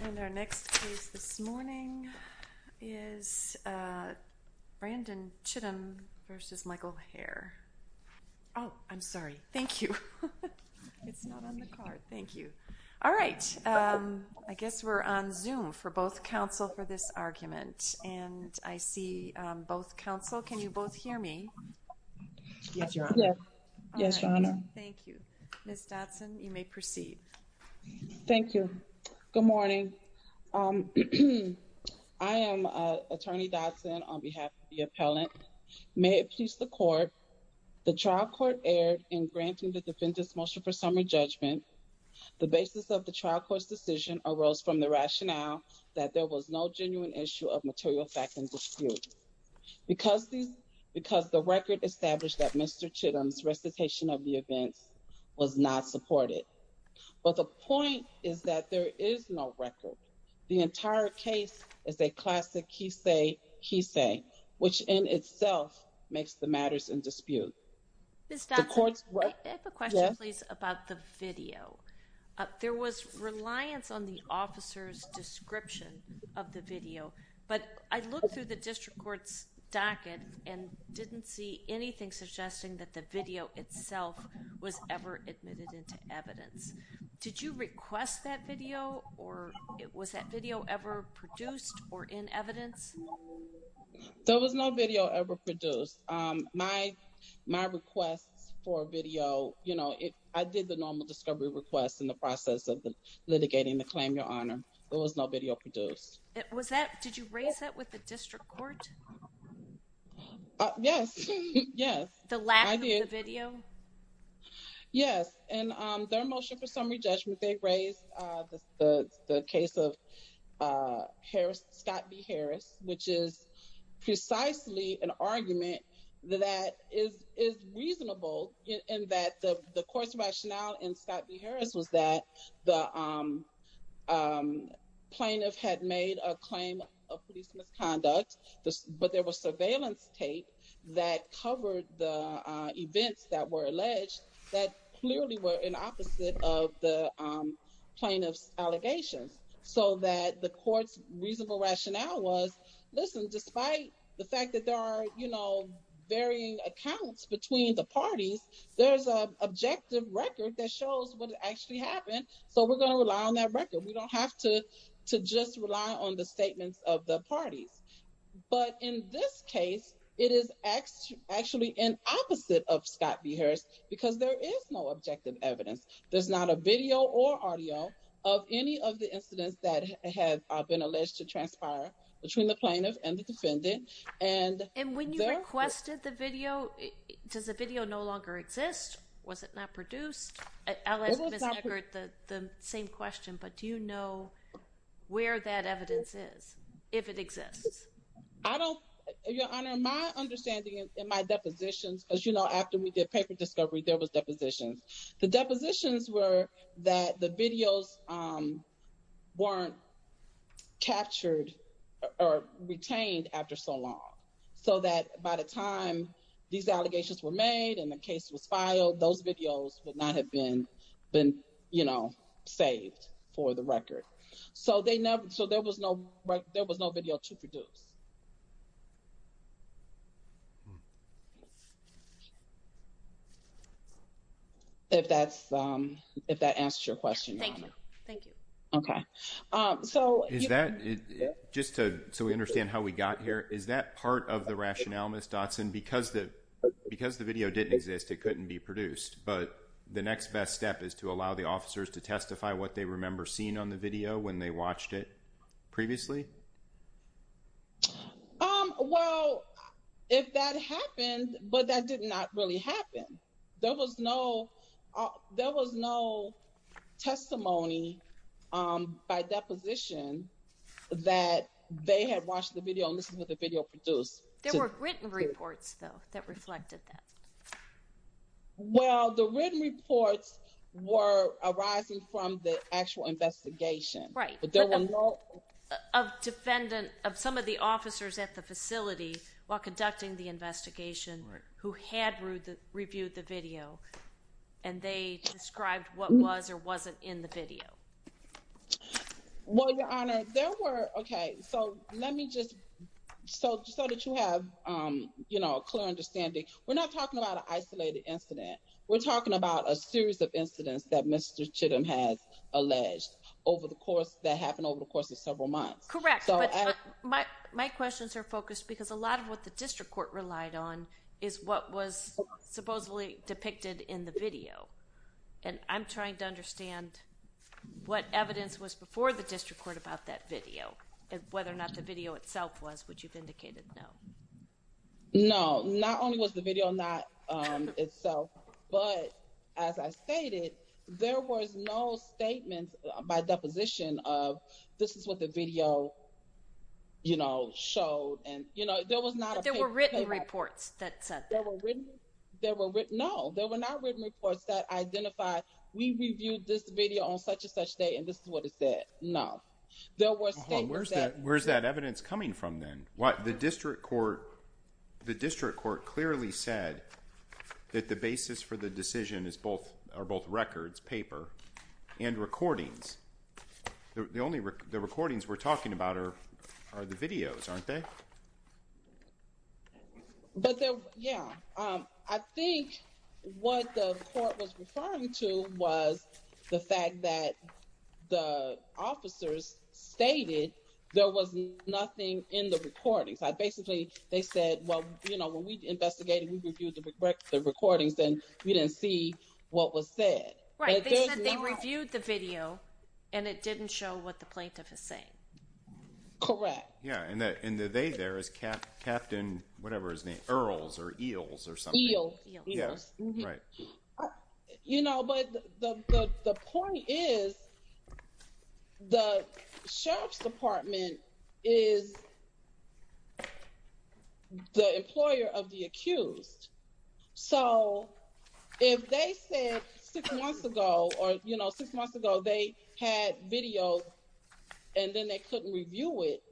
And our next case this morning is Brandon Chittum v. Michael Hare. Oh, I'm sorry. Thank you. It's not on the card. Thank you. All right. I guess we're on Zoom for both counsel for this argument. And I see both counsel. Can you both hear me? Yes, Your Honor. Yes, Your Honor. Thank you. Ms. Dotson, you may proceed. Thank you. Good morning. I am Attorney Dotson on behalf of the appellant. May it please the Court. The trial court erred in granting the defendant's motion for summary judgment. The basis of the trial court's decision arose from the rationale that there was no genuine issue of material fact and dispute. Because the record established that Mr. Chittum's recitation of the events was not supported. But the point is that there is no record. The entire case is a classic he say, he say, which in itself makes the matters in dispute. Ms. Dotson, I have a question, please, about the video. There was reliance on the officer's description of the video. But I looked through the district court's docket and didn't see anything suggesting that the video itself was ever admitted into evidence. Did you request that video or was that video ever produced or in evidence? There was no video ever produced. My request for video, you know, I did the normal discovery request in the process of litigating the claim, Your Honor. There was no video produced. Did you raise that with the district court? Yes, yes. The lack of the video? Yes. And their motion for summary judgment, they raised the case of Scott B. Harris, which is precisely an argument that is reasonable in that the court's rationale in Scott B. Harris was that the plaintiff had made a claim of police misconduct. But there was surveillance tape that covered the events that were alleged that clearly were an opposite of the plaintiff's allegations. So that the court's reasonable rationale was, listen, despite the fact that there are, you know, varying accounts between the parties, there's an objective record that shows what actually happened. So we're going to rely on that record. We don't have to just rely on the statements of the parties. But in this case, it is actually an opposite of Scott B. Harris because there is no objective evidence. There's not a video or audio of any of the incidents that have been alleged to transpire between the plaintiff and the defendant. And when you requested the video, does the video no longer exist? Was it not produced? I'll ask Ms. Eckert the same question, but do you know where that evidence is, if it exists? I don't, Your Honor, my understanding in my depositions, as you know, after we did paper discovery, there was depositions. The depositions were that the videos weren't captured or retained after so long. So that by the time these allegations were made and the case was filed, those videos would not have been, you know, saved for the record. So there was no video to produce. If that answers your question, Your Honor. Thank you. Okay. Just so we understand how we got here, is that part of the rationale, Ms. Dodson, because the video didn't exist, it couldn't be produced. But the next best step is to allow the officers to testify what they remember seeing on the video when they watched it previously? Well, if that happened, but that did not really happen. There was no testimony by deposition that they had watched the video and this is what the video produced. There were written reports, though, that reflected that. Well, the written reports were arising from the actual investigation. Right. But there were no... Of defendant, of some of the officers at the facility while conducting the investigation who had reviewed the video and they described what was or wasn't in the video. Well, Your Honor, there were, okay, so let me just, so that you have, you know, a clear understanding. We're not talking about an isolated incident. We're talking about a series of incidents that Mr. Chittum has alleged over the course, that happened over the course of several months. Correct. But my questions are focused because a lot of what the district court relied on is what was supposedly depicted in the video. And I'm trying to understand what evidence was before the district court about that video, whether or not the video itself was, which you've indicated no. No. Not only was the video not itself, but as I stated, there was no statement by deposition of this is what the video, you know, showed. And, you know, there was not... But there were written reports that said that. There were written, no, there were not written reports that identified we reviewed this video on such and such day and this is what it said. No. There were statements that... Where's that evidence coming from then? The district court clearly said that the basis for the decision is both records, paper, and recordings. The recordings we're talking about are the videos, aren't they? But, yeah, I think what the court was referring to was the fact that the officers stated there was nothing in the recordings. Basically, they said, well, you know, when we investigated, we reviewed the recordings and we didn't see what was said. Right. They said they reviewed the video and it didn't show what the plaintiff is saying. Correct. Yeah, and the they there is Captain whatever his name, Earls or Eels or something. Eel. Eels. Right. You know, but the point is the sheriff's department is the employer of the accused. So, if they said six months ago or, you know, six months ago they had video and then they couldn't review it,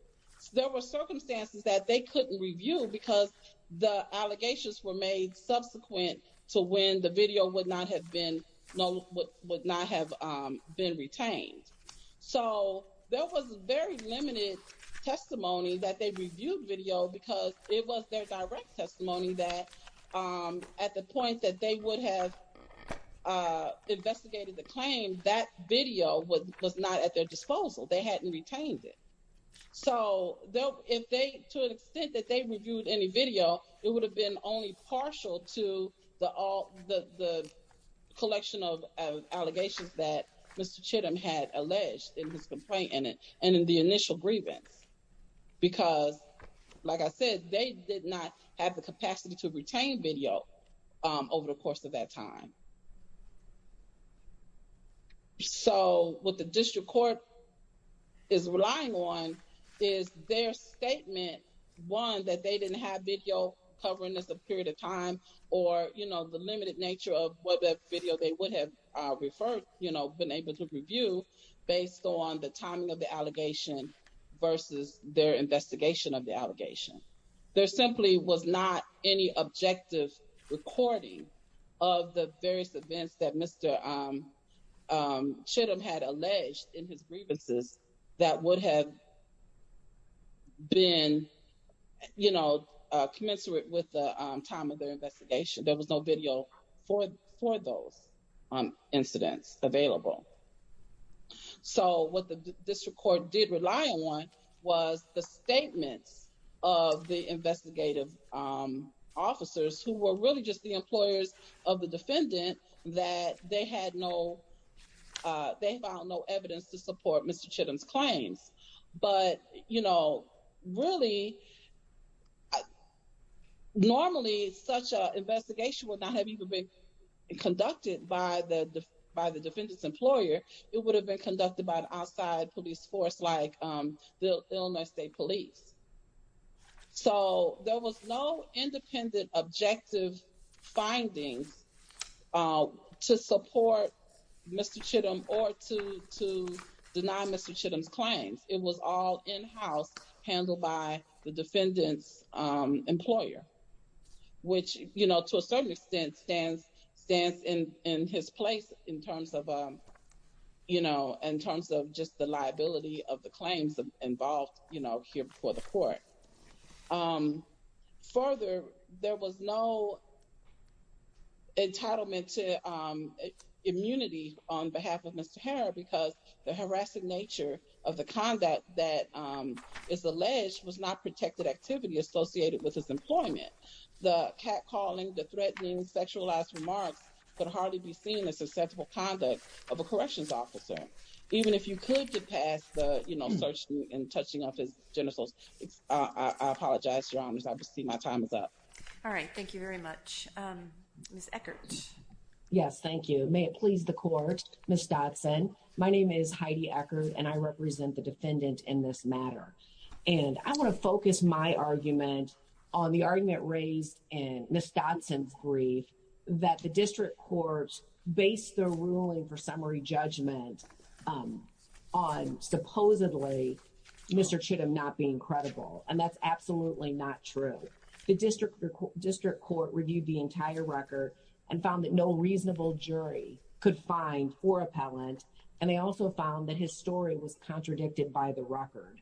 there were circumstances that they couldn't review because the allegations were made subsequent to when the video would not have been, would not have been retained. So, there was very limited testimony that they reviewed video because it was their direct testimony that at the point that they would have investigated the claim, that video was not at their disposal. They hadn't retained it. So, if they, to an extent, that they reviewed any video, it would have been only partial to the collection of allegations that Mr. Earls had alleged in his complaint in it and in the initial grievance. Because, like I said, they did not have the capacity to retain video over the course of that time. So, what the district court is relying on is their statement, one, that they didn't have video covering this a period of time or, you know, the limited nature of what that video they would have referred, you know, been able to review based on the timing of the allegation versus their investigation of the allegation. There simply was not any objective recording of the various events that Mr. Chittum had alleged in his grievances that would have been, you know, commensurate with the time of their investigation. There was no video for those incidents available. So, what the district court did rely on was the statements of the investigative officers who were really just the employers of the defendant that they had no, they found no evidence to support Mr. Chittum's claims. But, you know, really, normally such an investigation would not have even been conducted by the defendant's employer. It would have been conducted by an outside police force like the Illinois State Police. So, there was no independent objective findings to support Mr. Chittum or to deny Mr. Chittum's claims. It was all in-house handled by the defendant's employer, which, you know, to a certain extent stands in his place in terms of, you know, in terms of just the liability of the claims involved, you know, here before the court. Further, there was no entitlement to immunity on behalf of Mr. Herr because the harassing nature of the conduct that is alleged was not protected activity associated with his employment. The catcalling, the threatening, sexualized remarks could hardly be seen as susceptible conduct of a corrections officer. Even if you could get past the, you know, searching and touching of his genitals. I apologize, Your Honors. I see my time is up. All right. Thank you very much. Ms. Eckert? Yes, thank you. May it please the court. Ms. Dodson, my name is Heidi Eckert, and I represent the defendant in this matter. And I want to focus my argument on the argument raised in Ms. Dodson's brief that the district court based the ruling for summary judgment on supposedly Mr. Chittum not being credible. And that's absolutely not true. The district court reviewed the entire record and found that no reasonable jury could find or appellant. And they also found that his story was contradicted by the record.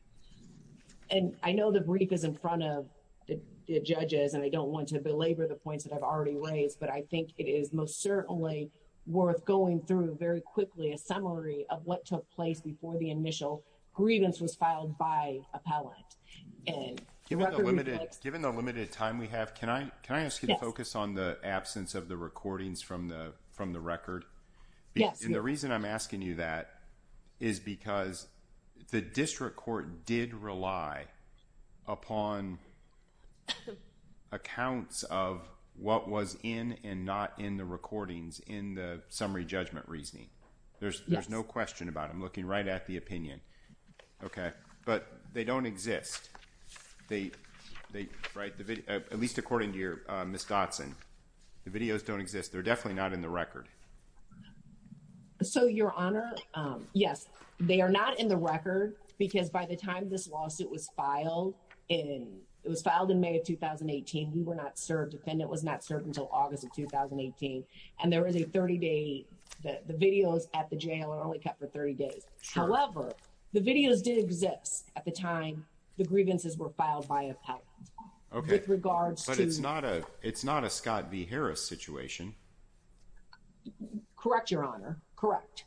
And I know the brief is in front of the judges, and I don't want to belabor the points that I've already raised. But I think it is most certainly worth going through very quickly a summary of what took place before the initial grievance was filed by appellant. Given the limited time we have, can I ask you to focus on the absence of the recordings from the record? Yes. And the reason I'm asking you that is because the district court did rely upon accounts of what was in and not in the recordings in the summary judgment reasoning. There's no question about it. I'm looking right at the opinion. Okay. But they don't exist. At least according to you, Ms. Dodson, the videos don't exist. They're definitely not in the record. So, Your Honor, yes, they are not in the record because by the time this lawsuit was filed in May of 2018, we were not served. The defendant was not served until August of 2018. And the videos at the jail are only kept for 30 days. However, the videos did exist at the time the grievances were filed by appellant. Okay. With regards to. But it's not a Scott v. Harris situation. Correct, Your Honor. Correct.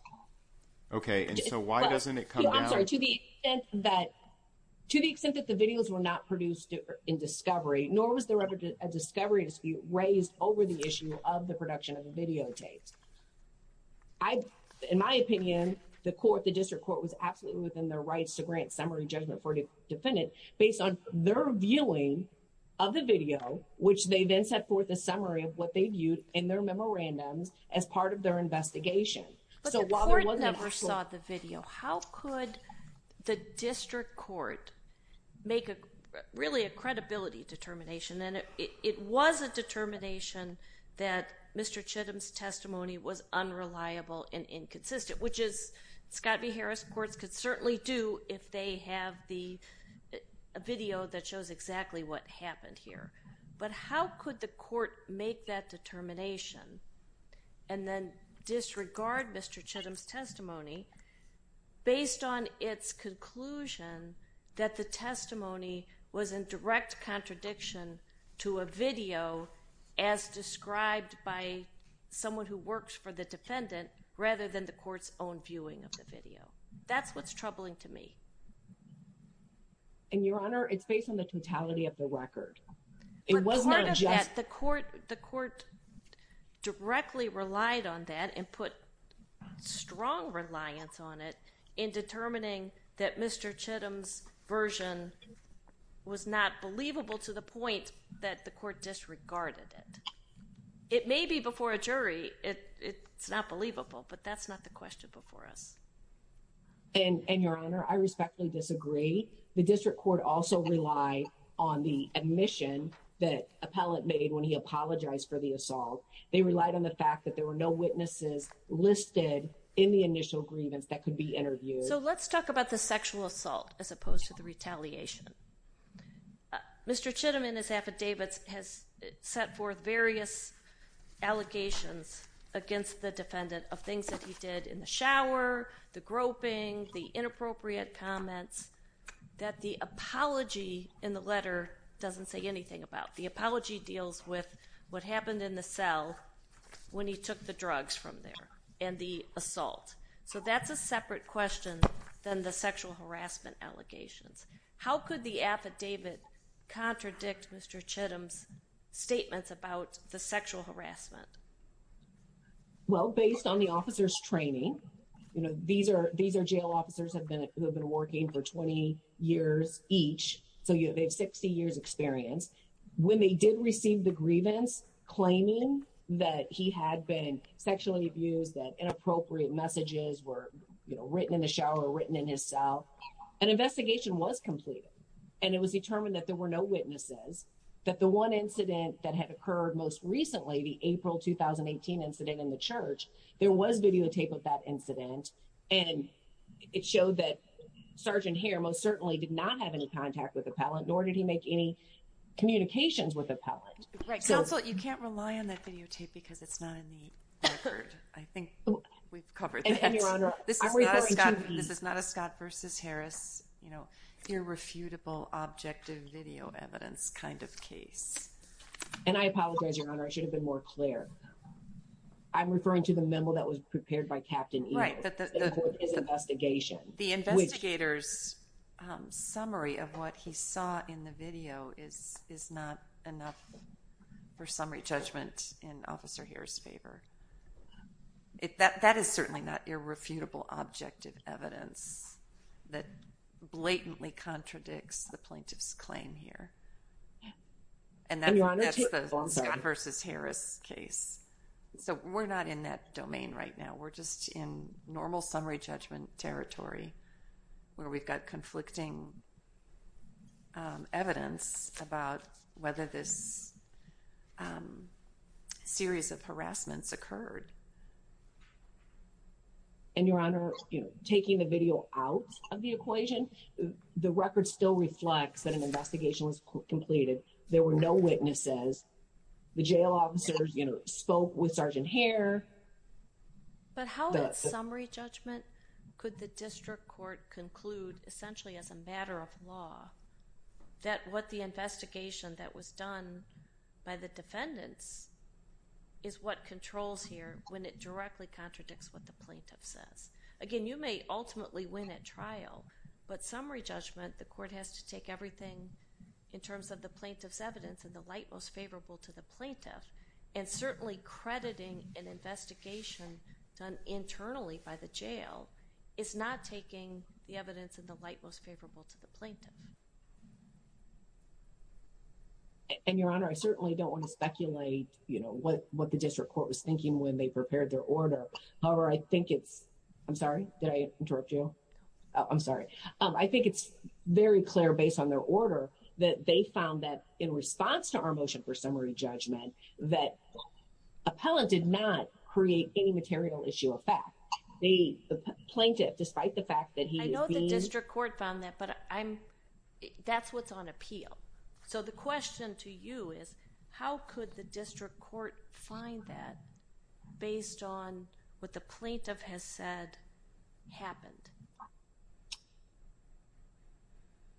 Okay. And so why doesn't it come down. I'm sorry. To the extent that the videos were not produced in discovery, nor was there ever a discovery dispute raised over the issue of the production of the videotapes. I, in my opinion, the court, the district court was absolutely within their rights to grant summary judgment for defendant based on their viewing of the video, which they then set forth a summary of what they viewed in their memorandums as part of their investigation. But the court never saw the video. How could the district court make a really a credibility determination? And it was a determination that Mr. Chittum's testimony was unreliable and inconsistent, which is Scott v. Harris courts could certainly do if they have the video that shows exactly what happened here. But how could the court make that determination and then disregard Mr. Chittum's testimony based on its conclusion that the testimony was in direct contradiction to a video as described by someone who works for the defendant rather than the court's own viewing of the video? That's what's troubling to me. And Your Honor, it's based on the totality of the record. It wasn't just the court. The court directly relied on that and put strong reliance on it in determining that Mr. Chittum's version was not believable to the point that the court disregarded it. It may be before a jury. It's not believable, but that's not the question before us. And Your Honor, I respectfully disagree. The district court also relied on the admission that appellate made when he apologized for the assault. They relied on the fact that there were no witnesses listed in the initial grievance that could be interviewed. So let's talk about the sexual assault as opposed to the retaliation. Mr. Chittum in his affidavits has set forth various allegations against the defendant of things that he did in the shower, the groping, the inappropriate comments that the apology in the letter doesn't say anything about. The apology deals with what happened in the cell when he took the drugs from there and the assault. So that's a separate question than the sexual harassment allegations. How could the affidavit contradict Mr. Chittum's statements about the sexual harassment? Well, based on the officer's training, you know, these are these are jail officers have been working for 20 years each. So, you know, they have 60 years experience when they did receive the grievance claiming that he had been sexually abused, that inappropriate messages were written in the shower, written in his cell. An investigation was completed and it was determined that there were no witnesses, that the one incident that had occurred most recently, the April 2018 incident in the church, there was videotape of that incident. And it showed that Sergeant Hare most certainly did not have any contact with Appellant, nor did he make any communications with Appellant. Counsel, you can't rely on that videotape because it's not in the record. I think we've covered that. This is not a Scott versus Harris, you know, irrefutable objective video evidence kind of case. And I apologize, Your Honor, I should have been more clear. I'm referring to the memo that was prepared by Captain Eno. Right. The investigation. The investigator's summary of what he saw in the video is not enough for summary judgment in Officer Hare's favor. That is certainly not irrefutable objective evidence that blatantly contradicts the plaintiff's claim here. And that's the Scott versus Harris case. So we're not in that domain right now. We're just in normal summary judgment territory where we've got conflicting evidence about whether this series of harassments occurred. And, Your Honor, you know, taking the video out of the equation, the record still reflects that an investigation was completed. There were no witnesses. The jail officers, you know, spoke with Sergeant Hare. But how in summary judgment could the district court conclude essentially as a matter of law that what the investigation that was done by the defendants is what controls here when it directly contradicts what the plaintiff says? Again, you may ultimately win at trial, but summary judgment the court has to take everything in terms of the plaintiff's evidence in the light most favorable to the plaintiff, so it's not taking the evidence in the light most favorable to the plaintiff. And, Your Honor, I certainly don't want to speculate, you know, what the district court was thinking when they prepared their order. However, I think it's, I'm sorry, did I interrupt you? I'm sorry. I think it's very clear based on their order that they found that in response to our motion for summary judgment that appellant did not create any material issue of fact. The plaintiff, despite the fact that he is being... I know the district court found that, but I'm, that's what's on appeal. So the question to you is how could the district court find that based on what the plaintiff has said happened?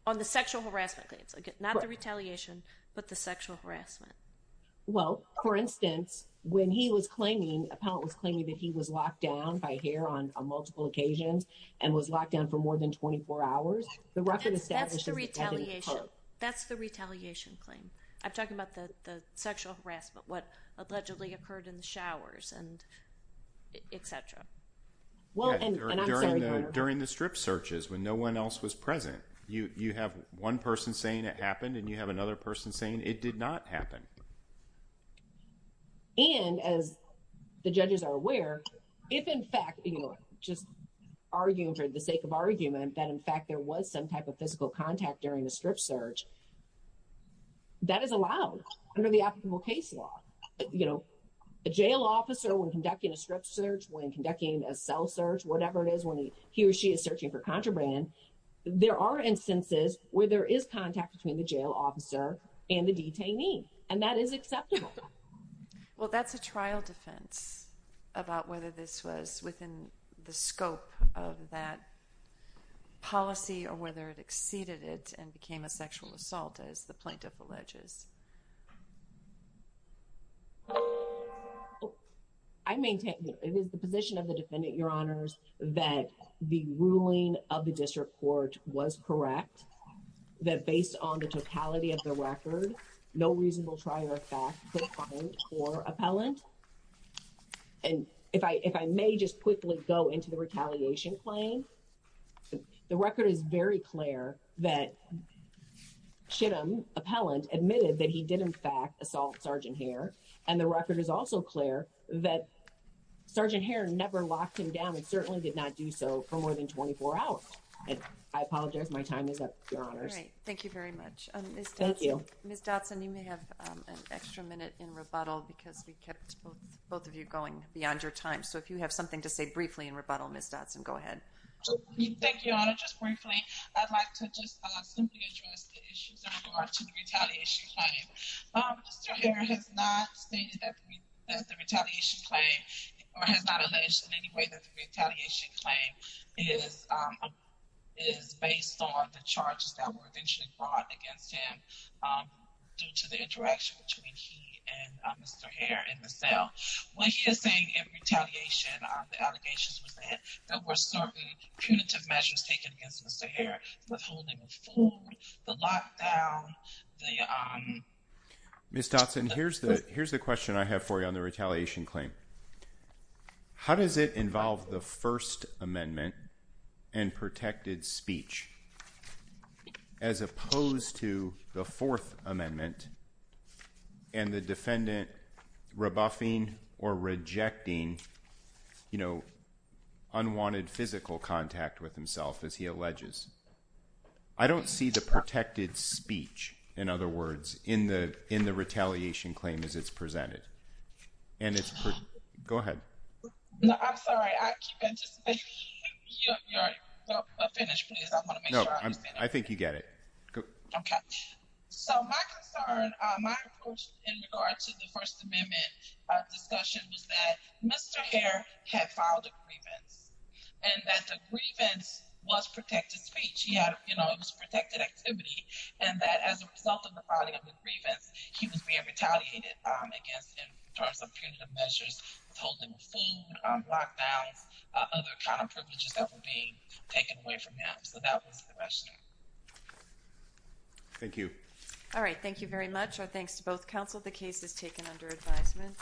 On the sexual harassment claims, not the retaliation, but the sexual harassment. Well, for instance, when he was claiming, appellant was claiming that he was locked down by H.A.R.E. on multiple occasions and was locked down for more than 24 hours. The record establishes... That's the retaliation. That's the retaliation claim. I'm talking about the sexual harassment, what allegedly occurred in the showers and etc. Well, and I'm sorry, Your Honor. During the strip searches when no one else was present, you have one person saying it happened and you have another person saying it did not happen. And as the judges are aware, if in fact, you know, just arguing for the sake of argument that in fact there was some type of physical contact during the strip search, that is allowed under the applicable case law. You know, a jail officer when conducting a strip search, when conducting a cell search, whatever it is, when he or she is searching for contraband, there are instances where there is contact between the jail officer and the detainee. And that is acceptable. Well, that's a trial defense about whether this was within the scope of that policy or whether it exceeded it and became a sexual assault as the plaintiff alleges. I maintain... It is the position of the defendant, Your Honors, that the ruling of the district court was correct, that based on the totality of the record, no reasonable trial or fact could find for appellant. And if I may just quickly go into the retaliation claim, the record is very clear that Chittim, appellant, admitted that he did in fact assault Sergeant Hare. And the record is also clear that Sergeant Hare never locked him down and certainly did not do so for more than 24 hours. I apologize. My time is up, Your Honors. All right. Thank you very much. Thank you. Ms. Dotson, you may have an extra minute in rebuttal because we kept both of you going beyond your time. So if you have something to say briefly in rebuttal, Ms. Dotson, go ahead. Thank you, Your Honor. Just briefly, I'd like to just simply address the issues in regard to the retaliation claim. Mr. Hare has not stated that the retaliation claim or has not alleged in any way that the retaliation claim is based on the charges that were eventually brought against him due to the interaction between he and Mr. Hare in the cell. What he is saying in retaliation, the allegations was that there were certain punitive measures taken against Mr. Hare, withholding of food, the lockdown. Ms. Dotson, here's the question I have for you on the retaliation claim. How does it involve the First Amendment and protected speech as opposed to the Fourth Amendment and the defendant rebuffing or rejecting, you know, unwanted physical contact with himself as he alleges? I don't see the protected speech, in other words, in the retaliation claim as it's presented. And it's, go ahead. No, I'm sorry. I keep anticipating your finish, please. I want to make sure I understand. No, I think you get it. Okay. So my concern, my approach in regard to the First Amendment discussion was that Mr. Hare had filed a grievance and that the grievance was protected speech. He had, you know, it was protected activity and that as a result of the filing of the grievance, he was being retaliated against in terms of punitive measures, withholding of food, lockdowns, other kind of privileges that were being taken away from him. So that was the question. Thank you. All right. Thank you very much. Our thanks to both counsel. The case is taken under advisement.